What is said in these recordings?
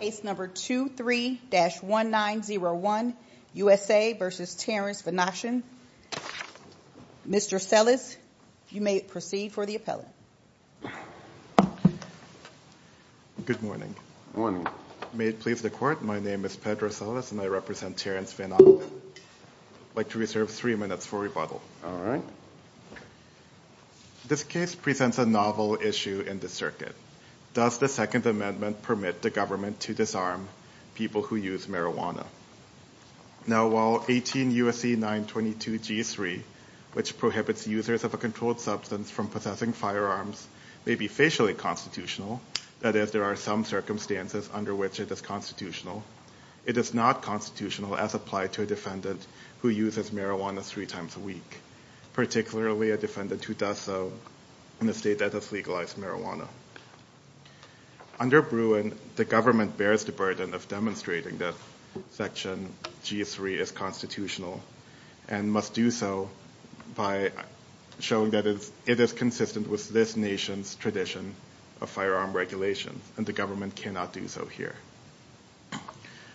Case number 23-1901, USA v. Terrance Vanochten. Mr. Sellis, you may proceed for the appellate. Good morning. May it please the court, my name is Pedro Sellis and I represent Terrance Vanochten. I'd like to reserve three minutes for rebuttal. This case presents a novel issue in the circuit. Does the second amendment permit the government to disarm people who use marijuana? Now while 18 U.S.C. 922 G3, which prohibits users of a controlled substance from possessing firearms, may be facially constitutional, that is, there are some circumstances under which it is constitutional, it is not constitutional as applied to a defendant who uses marijuana three times a week, particularly a defendant who does so in a state that has legalized marijuana. Under Bruin, the government bears the burden of demonstrating that section G3 is constitutional and must do so by showing that it is consistent with this nation's tradition of firearm regulation and the government cannot do so here.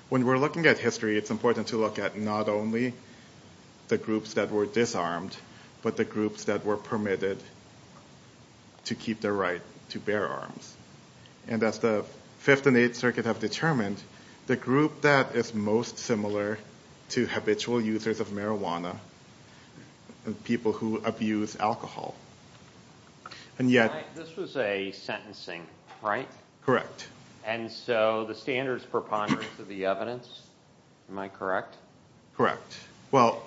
When we're looking at history, it's important to look at not only the groups that were disarmed, but the groups that were permitted to keep their right to bear arms. And as the Fifth and Eighth Circuit have determined, the group that is most similar to habitual users of marijuana are people who abuse alcohol. This was a sentencing, right? Correct. And so the standards for ponderance of the evidence, am I correct? Correct. Well,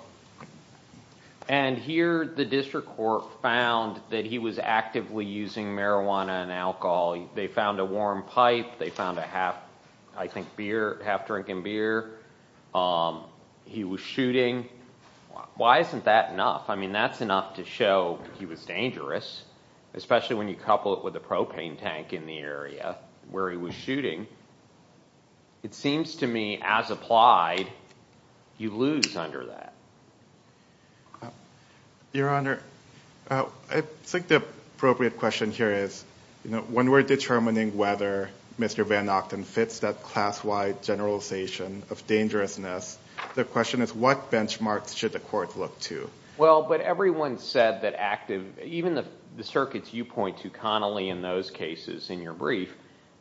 and here the district court found that he was actively using marijuana and alcohol, they found a warm pipe, they found a half-drinking beer, he was shooting. Why isn't that enough? I mean, that's enough to show he was dangerous, especially when you couple it with the propane tank in the area where he was shooting. It seems to me, as applied, you lose under that. Your Honor, I think the appropriate question here is, when we're determining whether Mr. Van Ochten fits that class-wide generalization of dangerousness, the question is what benchmarks should the court look to? Well, but everyone said that active, even the circuits you point to, Connolly, in those cases in your brief,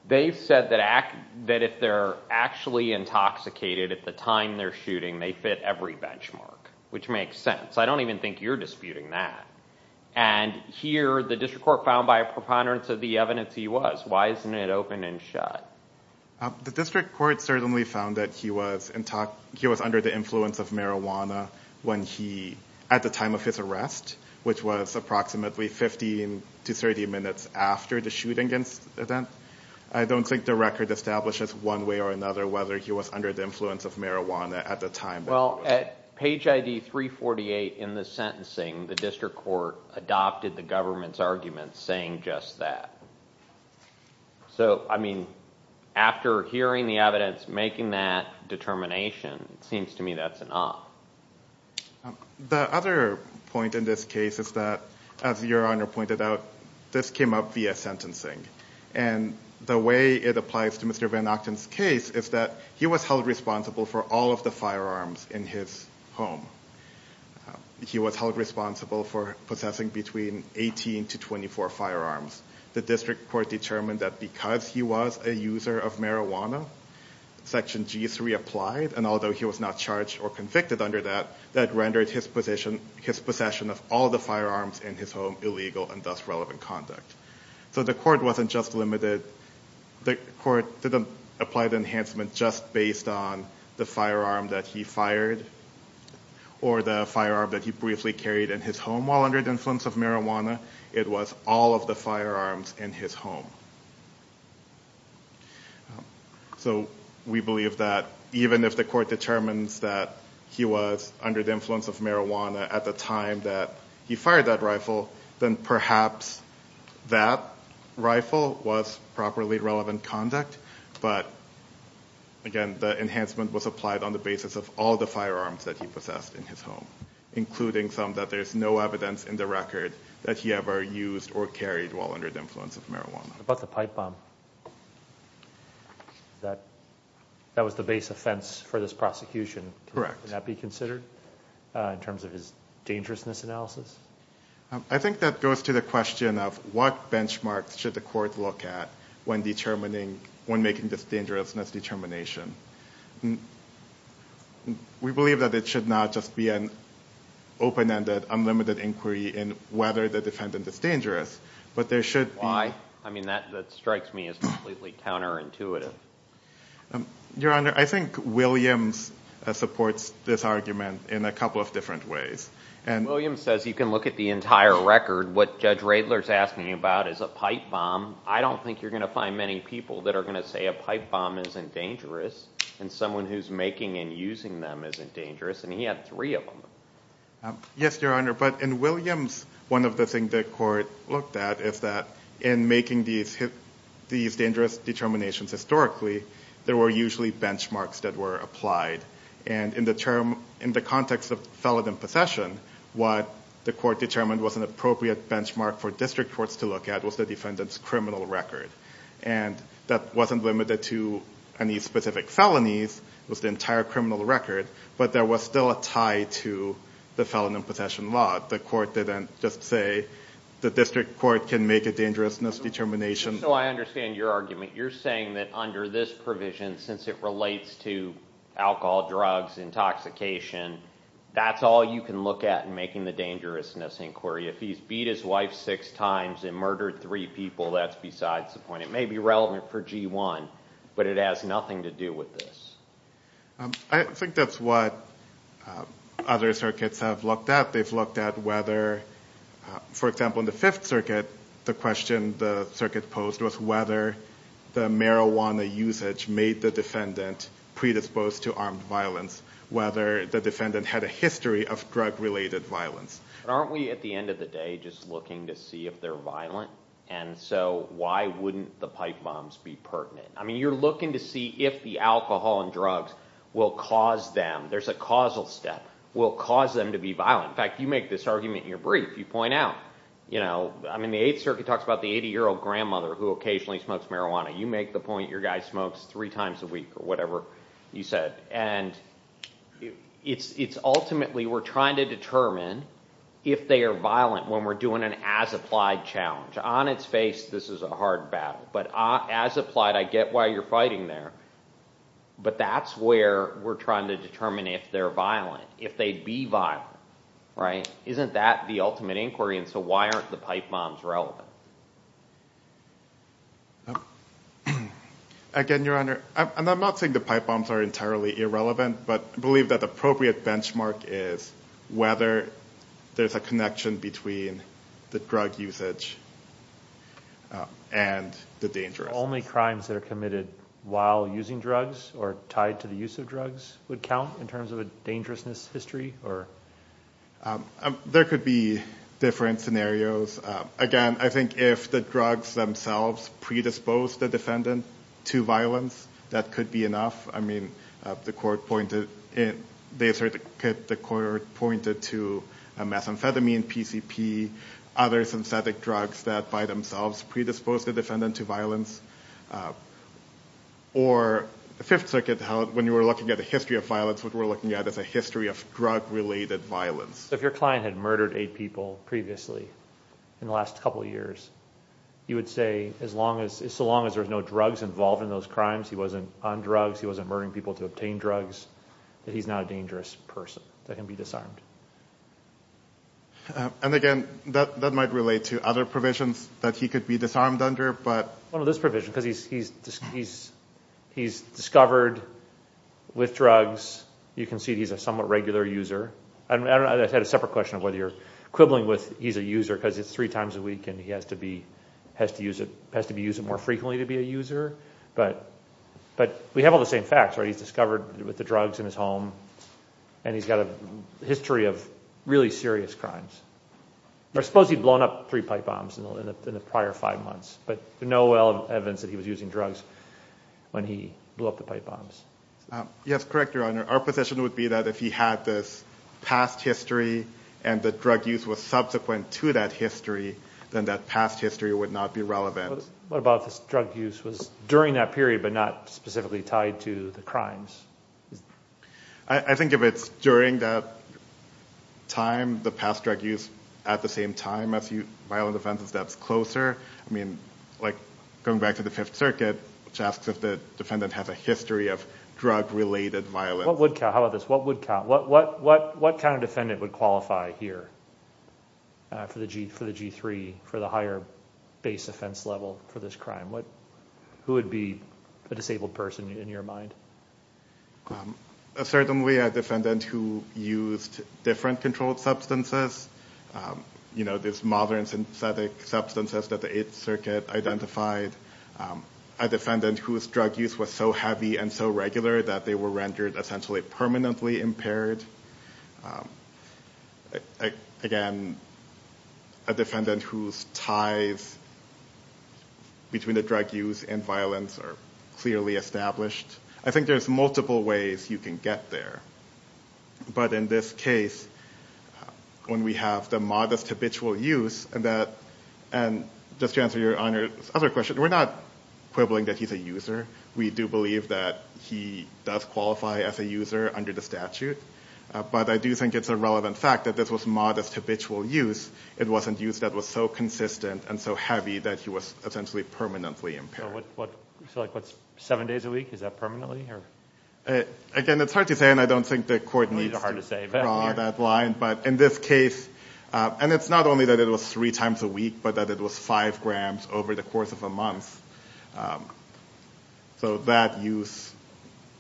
they've said that if they're actually intoxicated at the time they're shooting, they fit every benchmark, which makes sense. I don't even think you're disputing that. And here the district court found by a preponderance of the evidence he was. Why isn't it open and shut? The district court certainly found that he was under the influence of marijuana at the time of his arrest, which was approximately 15 to 30 minutes after the shooting incident. I don't think the record establishes one way or another whether he was under the influence of marijuana at the time. Well, at page ID 348 in the sentencing, the district court adopted the government's argument saying just that. So, I mean, after hearing the evidence, making that determination, it seems to me that's an op. The other point in this case is that, as Your Honor pointed out, this came up via sentencing. And the way it applies to Mr. Van Ochten's case is that he was held responsible for all of the firearms in his home. He was held responsible for possessing between 18 to 24 firearms. The district court determined that because he was a user of marijuana, Section G3 applied, and although he was not charged or convicted under that, that rendered his possession of all the firearms in his home illegal and thus relevant conduct. So the court didn't apply the enhancement just based on the firearm that he fired or the firearm that he briefly carried in his home while under the influence of marijuana. It was all of the firearms in his home. So we believe that even if the court determines that he was under the influence of marijuana at the time that he fired that rifle, then perhaps that rifle was properly relevant conduct. But, again, the enhancement was applied on the basis of all the firearms that he possessed in his home, including some that there's no evidence in the record that he ever used or carried while under the influence of marijuana. But the pipe bomb, that was the base offense for this prosecution. Correct. Would that be considered in terms of his dangerousness analysis? I think that goes to the question of what benchmarks should the court look at when determining, when making this dangerousness determination. We believe that it should not just be an open-ended, unlimited inquiry in whether the defendant is dangerous, but there should be... Why? I mean, that strikes me as completely counterintuitive. Your Honor, I think Williams supports this argument in a couple of different ways. Williams says you can look at the entire record. What Judge Radler's asking you about is a pipe bomb. I don't think you're going to find many people that are going to say a pipe bomb isn't dangerous. And someone who's making and using them isn't dangerous. And he had three of them. Yes, Your Honor. But in Williams, one of the things the court looked at is that in making these dangerous determinations historically, there were usually benchmarks that were applied. And in the context of felon and possession, what the court determined was an appropriate benchmark for district courts to look at was the defendant's criminal record. And that wasn't limited to any specific felonies. It was the entire criminal record. But there was still a tie to the felon and possession law. The court didn't just say the district court can make a dangerousness determination. So I understand your argument. You're saying that under this provision, since it relates to alcohol, drugs, intoxication, that's all you can look at in making the dangerousness inquiry. If he's beat his wife six times and murdered three people, that's besides the point. It may be relevant for G1, but it has nothing to do with this. I think that's what other circuits have looked at. They've looked at whether, for example, in the Fifth Circuit, the question the circuit posed was whether the marijuana usage made the defendant predisposed to armed violence, whether the defendant had a history of drug-related violence. Aren't we, at the end of the day, just looking to see if they're violent? And so why wouldn't the pipe bombs be pertinent? I mean, you're looking to see if the alcohol and drugs will cause them, there's a causal step, will cause them to be violent. In fact, you make this argument in your brief. You point out, you know, I mean, the Eighth Circuit talks about the 80-year-old grandmother who occasionally smokes marijuana. You make the point your guy smokes three times a week or whatever you said. And it's ultimately we're trying to determine if they are violent when we're doing an as-applied challenge. On its face, this is a hard battle. But as-applied, I get why you're fighting there. But that's where we're trying to determine if they're violent, if they'd be violent. Isn't that the ultimate inquiry? And so why aren't the pipe bombs relevant? Again, Your Honor, and I'm not saying the pipe bombs are entirely irrelevant, but I believe that the appropriate benchmark is whether there's a connection between the drug usage and the dangerousness. Only crimes that are committed while using drugs or tied to the use of drugs would count in terms of a dangerousness history? There could be different scenarios. Again, I think if the drugs themselves predispose the defendant to violence, that could be enough. I mean, the court pointed to methamphetamine, PCP, other synthetic drugs that by themselves predispose the defendant to violence. Or the Fifth Circuit held when you were looking at the history of violence, what we're looking at is a history of drug-related violence. If your client had murdered eight people previously in the last couple years, you would say, so long as there's no drugs involved in those crimes, he wasn't on drugs, he wasn't murdering people to obtain drugs, that he's not a dangerous person that can be disarmed. And again, that might relate to other provisions that he could be disarmed under, but- One of those provisions, because he's discovered with drugs, you can see he's a somewhat regular user. I had a separate question of whether you're quibbling with he's a user because it's three times a week and he has to be used more frequently to be a user. But we have all the same facts, right? He's discovered with the drugs in his home, and he's got a history of really serious crimes. I suppose he'd blown up three pipe bombs in the prior five months, but no evidence that he was using drugs when he blew up the pipe bombs. Yes, correct, Your Honor. Our position would be that if he had this past history and the drug use was subsequent to that history, then that past history would not be relevant. What about if his drug use was during that period but not specifically tied to the crimes? I think if it's during that time, the past drug use at the same time as violent offenses, that's closer. Going back to the Fifth Circuit, which asks if the defendant has a history of drug-related violence. How about this? What kind of defendant would qualify here for the G3, for the higher base offense level for this crime? Who would be a disabled person in your mind? Certainly a defendant who used different controlled substances. There's modern synthetic substances that the Eighth Circuit identified. A defendant whose drug use was so heavy and so regular that they were rendered essentially permanently impaired. Again, a defendant whose ties between the drug use and violence are clearly established. I think there's multiple ways you can get there. But in this case, when we have the modest habitual use, and just to answer Your Honor's other question, we're not quibbling that he's a user. We do believe that he does qualify as a user under the statute. But I do think it's a relevant fact that this was modest habitual use. It wasn't use that was so consistent and so heavy that he was essentially permanently impaired. So what's seven days a week? Is that permanently? Again, it's hard to say, and I don't think the court needs to draw that line. But in this case, and it's not only that it was three times a week, but that it was five grams over the course of a month. So that use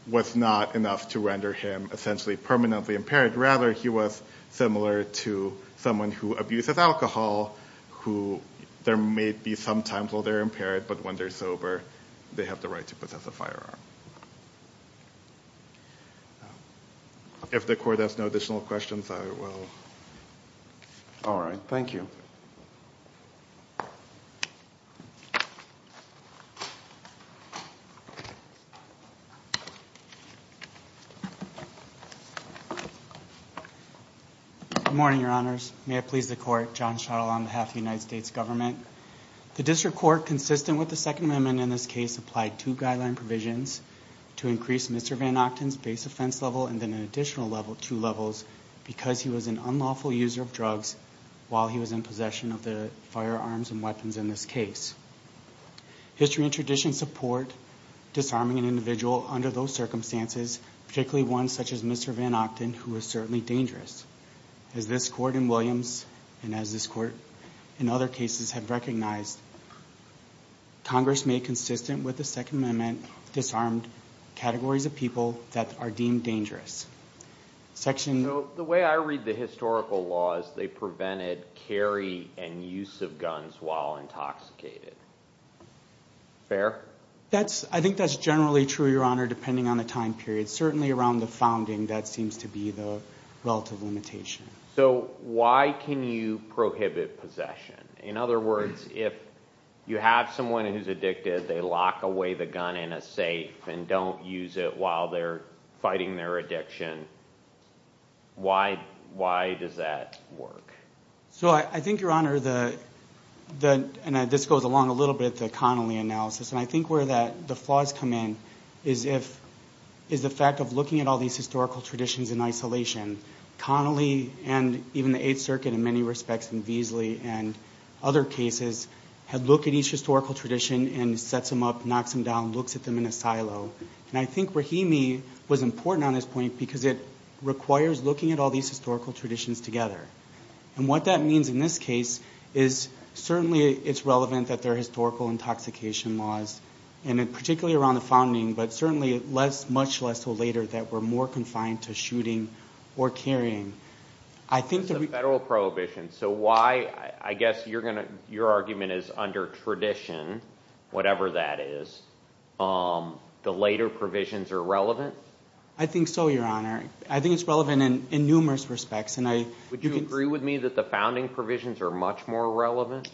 was not enough to render him essentially permanently impaired. Rather, he was similar to someone who abuses alcohol, who there may be some times where they're impaired, but when they're sober, they have the right to possess a firearm. If the court has no additional questions, I will. All right. Thank you. Good morning, Your Honors. May it please the court, John Schottel on behalf of the United States government. The district court, consistent with the Second Amendment in this case, applied two guideline provisions to increase Mr. VanOchten's base offense level and then an additional two levels because he was an unlawful user of drugs while he was in possession of the firearms and weapons in this case. History and tradition support disarming an individual under those circumstances, particularly one such as Mr. VanOchten, who is certainly dangerous. As this court in Williams and as this court in other cases have recognized, Congress made consistent with the Second Amendment disarmed categories of people that are deemed dangerous. The way I read the historical law is they prevented carry and use of guns while intoxicated. Fair? I think that's generally true, Your Honor, depending on the time period. But certainly around the founding, that seems to be the relative limitation. So why can you prohibit possession? In other words, if you have someone who's addicted, they lock away the gun in a safe and don't use it while they're fighting their addiction. Why does that work? So I think, Your Honor, and this goes along a little bit with the Connolly analysis, and I think where the flaws come in is the fact of looking at all these historical traditions in isolation. Connolly and even the Eighth Circuit in many respects and Veasley and other cases had looked at each historical tradition and sets them up, knocks them down, looks at them in a silo. And I think Rahimi was important on this point because it requires looking at all these historical traditions together. And what that means in this case is certainly it's relevant that there are historical intoxication laws, and particularly around the founding, but certainly much less so later that we're more confined to shooting or carrying. That's a federal prohibition. So why, I guess your argument is under tradition, whatever that is, the later provisions are relevant? I think so, Your Honor. I think it's relevant in numerous respects. Would you agree with me that the founding provisions are much more relevant?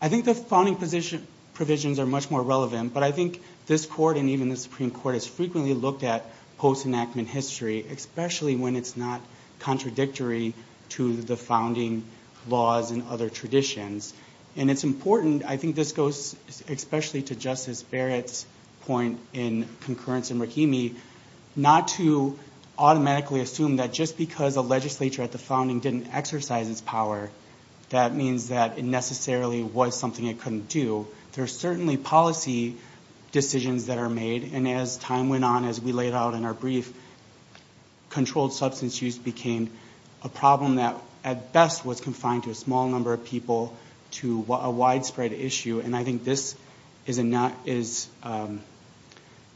I think the founding provisions are much more relevant, but I think this Court and even the Supreme Court has frequently looked at post-enactment history, especially when it's not contradictory to the founding laws and other traditions. And it's important, I think this goes especially to Justice Barrett's point in concurrence in Rahimi, not to automatically assume that just because a legislature at the founding didn't exercise its power, that means that it necessarily was something it couldn't do. There are certainly policy decisions that are made. And as time went on, as we laid out in our brief, controlled substance use became a problem that at best was confined to a small number of people to a widespread issue. And I think this is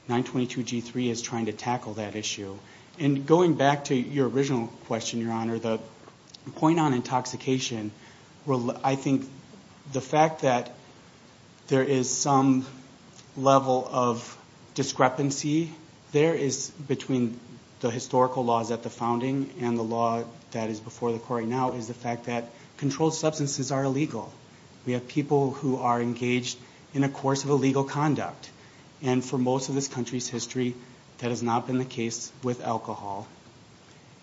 922G3 is trying to tackle that issue. And going back to your original question, Your Honor, the point on intoxication, I think the fact that there is some level of discrepancy there is between the historical laws at the founding and the law that is before the Court right now is the fact that controlled substances are illegal. We have people who are engaged in a course of illegal conduct. And for most of this country's history, that has not been the case with alcohol.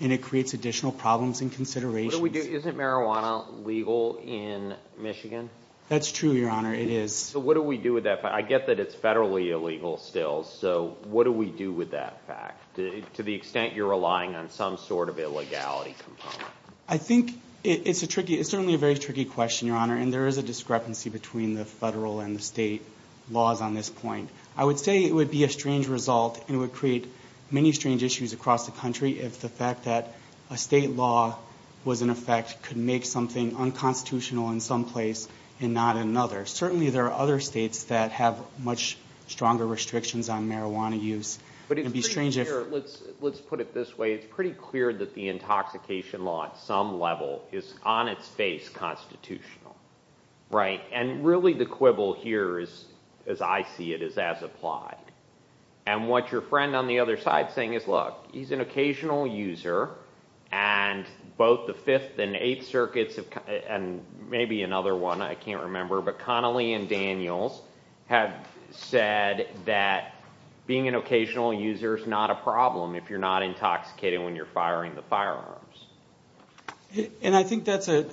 And it creates additional problems and considerations. Isn't marijuana legal in Michigan? That's true, Your Honor, it is. So what do we do with that fact? I get that it's federally illegal still. So what do we do with that fact to the extent you're relying on some sort of illegality component? I think it's certainly a very tricky question, Your Honor, and there is a discrepancy between the federal and the state laws on this point. I would say it would be a strange result and it would create many strange issues across the country if the fact that a state law was in effect could make something unconstitutional in some place and not another. Certainly there are other states that have much stronger restrictions on marijuana use. Let's put it this way. It's pretty clear that the intoxication law at some level is on its face constitutional. And really the quibble here, as I see it, is as applied. And what your friend on the other side is saying is, look, he's an occasional user, and both the Fifth and Eighth Circuits, and maybe another one, I can't remember, but Connelly and Daniels have said that being an occasional user is not a problem if you're not intoxicated when you're firing the firearms. And I think that's the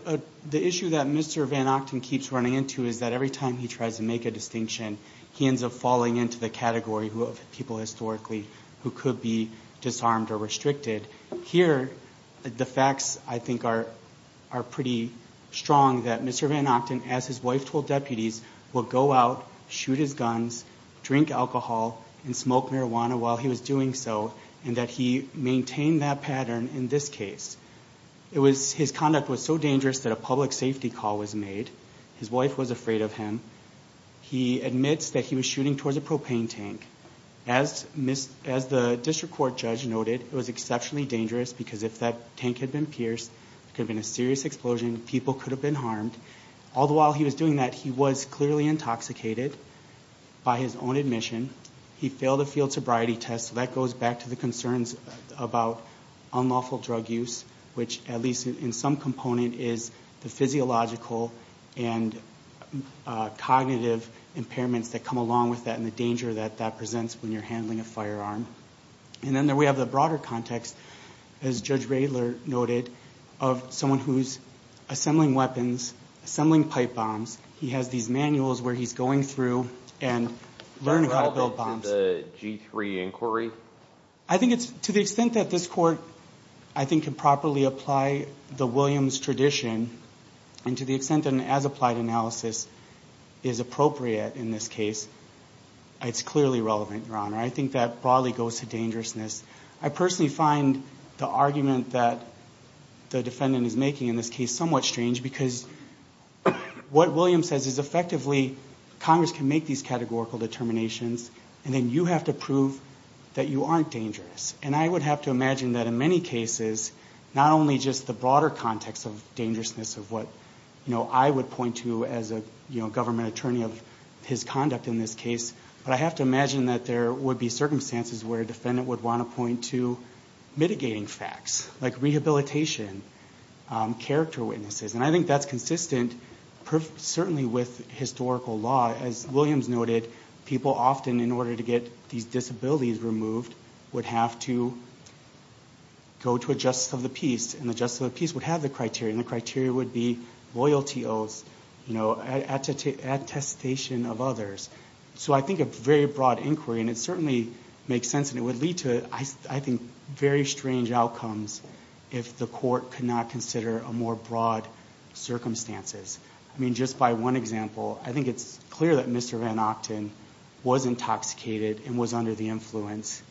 issue that Mr. Van Ochten keeps running into is that every time he tries to make a distinction, he ends up falling into the category of people historically who could be disarmed or restricted. Here, the facts, I think, are pretty strong that Mr. Van Ochten, as his wife told deputies, would go out, shoot his guns, drink alcohol, and smoke marijuana while he was doing so, and that he maintained that pattern in this case. His conduct was so dangerous that a public safety call was made. His wife was afraid of him. He admits that he was shooting towards a propane tank. As the district court judge noted, it was exceptionally dangerous because if that tank had been pierced, there could have been a serious explosion, people could have been harmed. All the while he was doing that, he was clearly intoxicated by his own admission. He failed a field sobriety test, so that goes back to the concerns about unlawful drug use, which at least in some component is the physiological and cognitive impairments that come along with that and the danger that that presents when you're handling a firearm. And then we have the broader context, as Judge Radler noted, of someone who's assembling weapons, assembling pipe bombs. He has these manuals where he's going through and learning how to build bombs. Is that relevant to the G3 inquiry? I think it's to the extent that this court, I think, can properly apply the Williams tradition and to the extent that an as-applied analysis is appropriate in this case, it's clearly relevant, Your Honor. I think that broadly goes to dangerousness. I personally find the argument that the defendant is making in this case somewhat strange because what Williams says is effectively Congress can make these categorical determinations and then you have to prove that you aren't dangerous. And I would have to imagine that in many cases, not only just the broader context of dangerousness of what I would point to as a government attorney of his conduct in this case, but I have to imagine that there would be circumstances where a defendant would want to point to mitigating facts like rehabilitation, character witnesses. And I think that's consistent certainly with historical law. As Williams noted, people often, in order to get these disabilities removed, would have to go to a justice of the peace, and the justice of the peace would have the criteria, and the criteria would be loyalty oaths, attestation of others. So I think a very broad inquiry, and it certainly makes sense, and it would lead to, I think, very strange outcomes if the court could not consider more broad circumstances. I mean, just by one example, I think it's clear that Mr. Van Octen was intoxicated and was under the influence.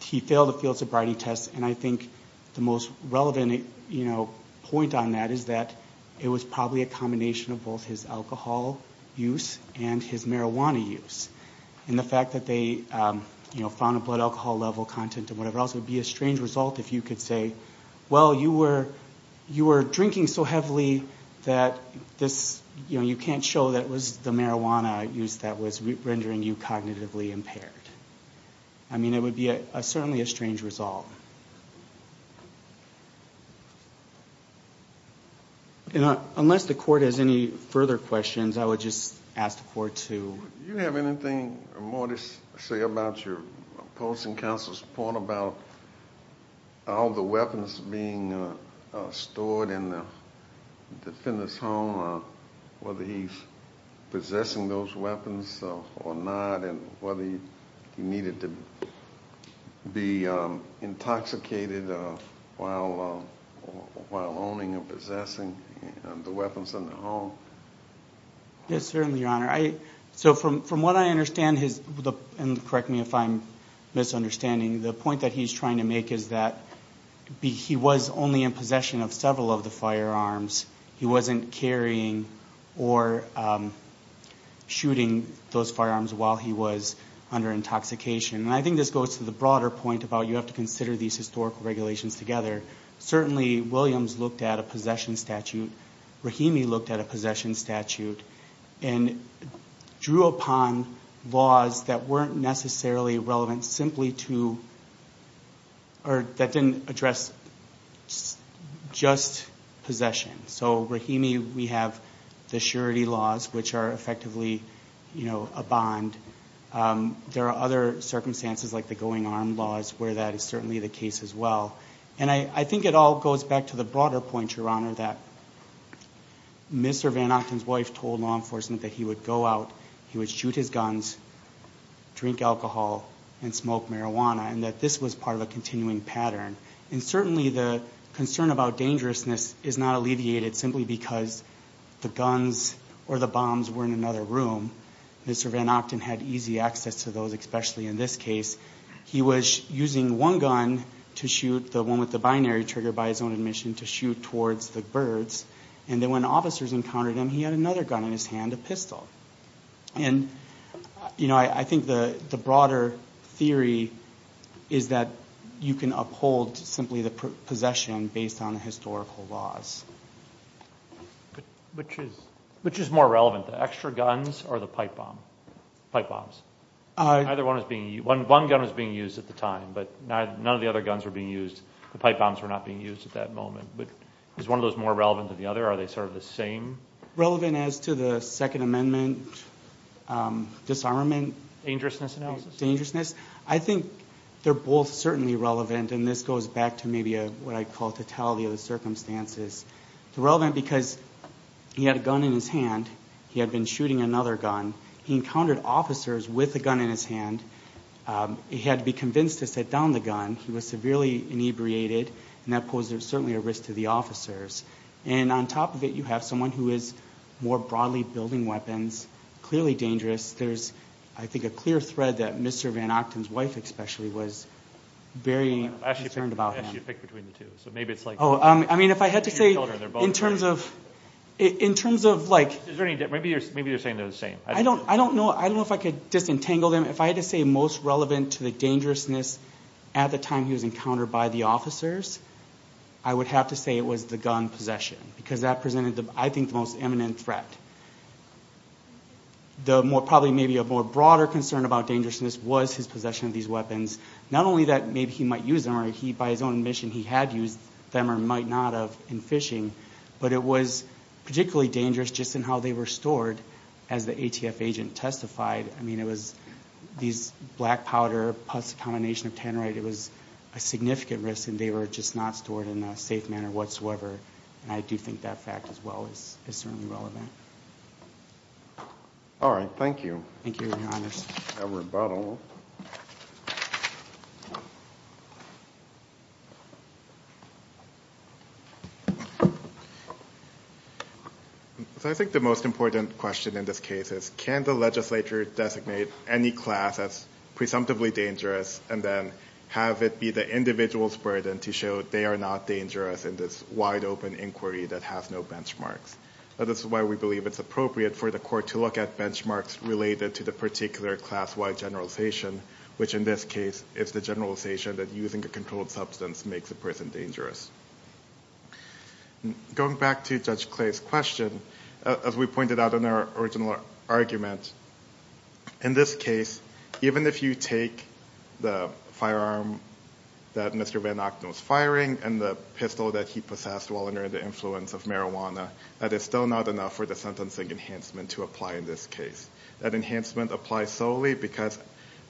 He failed a field sobriety test, and I think the most relevant point on that is that it was probably a combination of both his alcohol use and his marijuana use. And the fact that they found a blood alcohol level content and whatever else would be a strange result if you could say, well, you were drinking so heavily that you can't show that it was the marijuana use that was rendering you cognitively impaired. I mean, it would be certainly a strange result. Unless the court has any further questions, I would just ask the court to... Do you have anything more to say about your opposing counsel's point about all the weapons being stored in the defender's home, whether he's possessing those weapons or not, and whether he needed to be intoxicated while owning or possessing the weapons in the home? Yes, certainly, Your Honor. So from what I understand, and correct me if I'm misunderstanding, the point that he's trying to make is that he was only in possession of several of the firearms. He wasn't carrying or shooting those firearms while he was under intoxication. And I think this goes to the broader point about you have to consider these historical regulations together. Certainly, Williams looked at a possession statute, Rahimi looked at a possession statute, and drew upon laws that weren't necessarily relevant simply to... or that didn't address just possession. So Rahimi, we have the surety laws, which are effectively a bond. There are other circumstances, like the going armed laws, where that is certainly the case as well. And I think it all goes back to the broader point, Your Honor, that Mr. Van Ochten's wife told law enforcement that he would go out, he would shoot his guns, drink alcohol, and smoke marijuana, and that this was part of a continuing pattern. And certainly the concern about dangerousness is not alleviated simply because the guns or the bombs were in another room. Mr. Van Ochten had easy access to those, especially in this case. He was using one gun to shoot, the one with the binary trigger by his own admission, to shoot towards the birds. And then when officers encountered him, he had another gun in his hand, a pistol. And I think the broader theory is that you can uphold simply the possession based on historical laws. Which is more relevant, the extra guns or the pipe bombs? One gun was being used at the time, but none of the other guns were being used. The pipe bombs were not being used at that moment. But is one of those more relevant than the other? Are they sort of the same? Relevant as to the Second Amendment disarmament? Dangerousness analysis? Dangerousness. I think they're both certainly relevant, and this goes back to maybe what I call totality of the circumstances. It's relevant because he had a gun in his hand. He had been shooting another gun. He encountered officers with a gun in his hand. He had to be convinced to sit down the gun. He was severely inebriated, and that posed certainly a risk to the officers. And on top of it, you have someone who is more broadly building weapons, clearly dangerous. There's, I think, a clear thread that Mr. Van Ockton's wife, especially, was very concerned about him. I'll ask you to pick between the two. I mean, if I had to say, in terms of like— Maybe you're saying they're the same. I don't know. I don't know if I could disentangle them. If I had to say most relevant to the dangerousness at the time he was encountered by the officers, I would have to say it was the gun possession because that presented, I think, the most imminent threat. Probably maybe a more broader concern about dangerousness was his possession of these weapons. Not only that maybe he might use them, or by his own admission, he had used them or might not have in fishing, but it was particularly dangerous just in how they were stored as the ATF agent testified. I mean, it was these black powder plus a combination of tannerite. It was a significant risk, and they were just not stored in a safe manner whatsoever. And I do think that fact as well is certainly relevant. All right. Thank you. Thank you, Your Honors. Reverend Buttle. I think the most important question in this case is can the legislature designate any class as presumptively dangerous and then have it be the individual's burden to show they are not dangerous in this wide-open inquiry that has no benchmarks? This is why we believe it's appropriate for the court to look at benchmarks related to the particular class-wide generalization, which in this case is the generalization that using a controlled substance makes a person dangerous. Going back to Judge Clay's question, as we pointed out in our original argument, in this case even if you take the firearm that Mr. Van Ocknoe is firing and the pistol that he possessed while under the influence of marijuana, that is still not enough for the sentencing enhancement to apply in this case. That enhancement applies solely because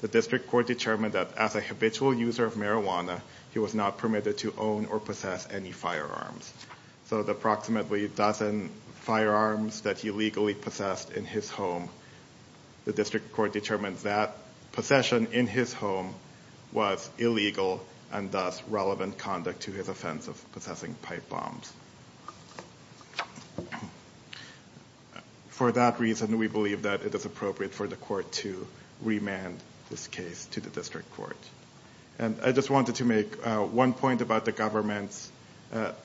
the district court determined that as a habitual user of marijuana, he was not permitted to own or possess any firearms. So the approximately dozen firearms that he legally possessed in his home, the district court determined that possession in his home was illegal and thus relevant conduct to his offense of possessing pipe bombs. For that reason, we believe that it is appropriate for the court to remand this case to the district court. I just wanted to make one point about the government's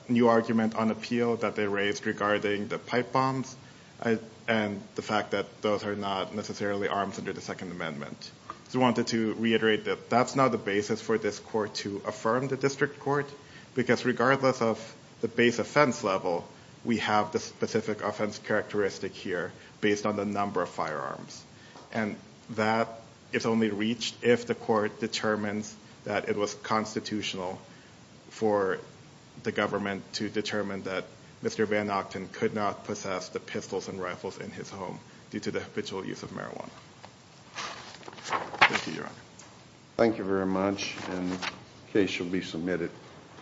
new argument on appeal that they raised regarding the pipe bombs and the fact that those are not necessarily arms under the Second Amendment. I just wanted to reiterate that that's not the basis for this court to affirm the district court because regardless of the base offense level, we have the specific offense characteristic here based on the number of firearms. And that is only reached if the court determines that it was constitutional for the government to determine that Mr. Van Ochten could not possess the pistols and rifles in his home due to the habitual use of marijuana. Thank you, Your Honor. Thank you very much, and the case shall be submitted.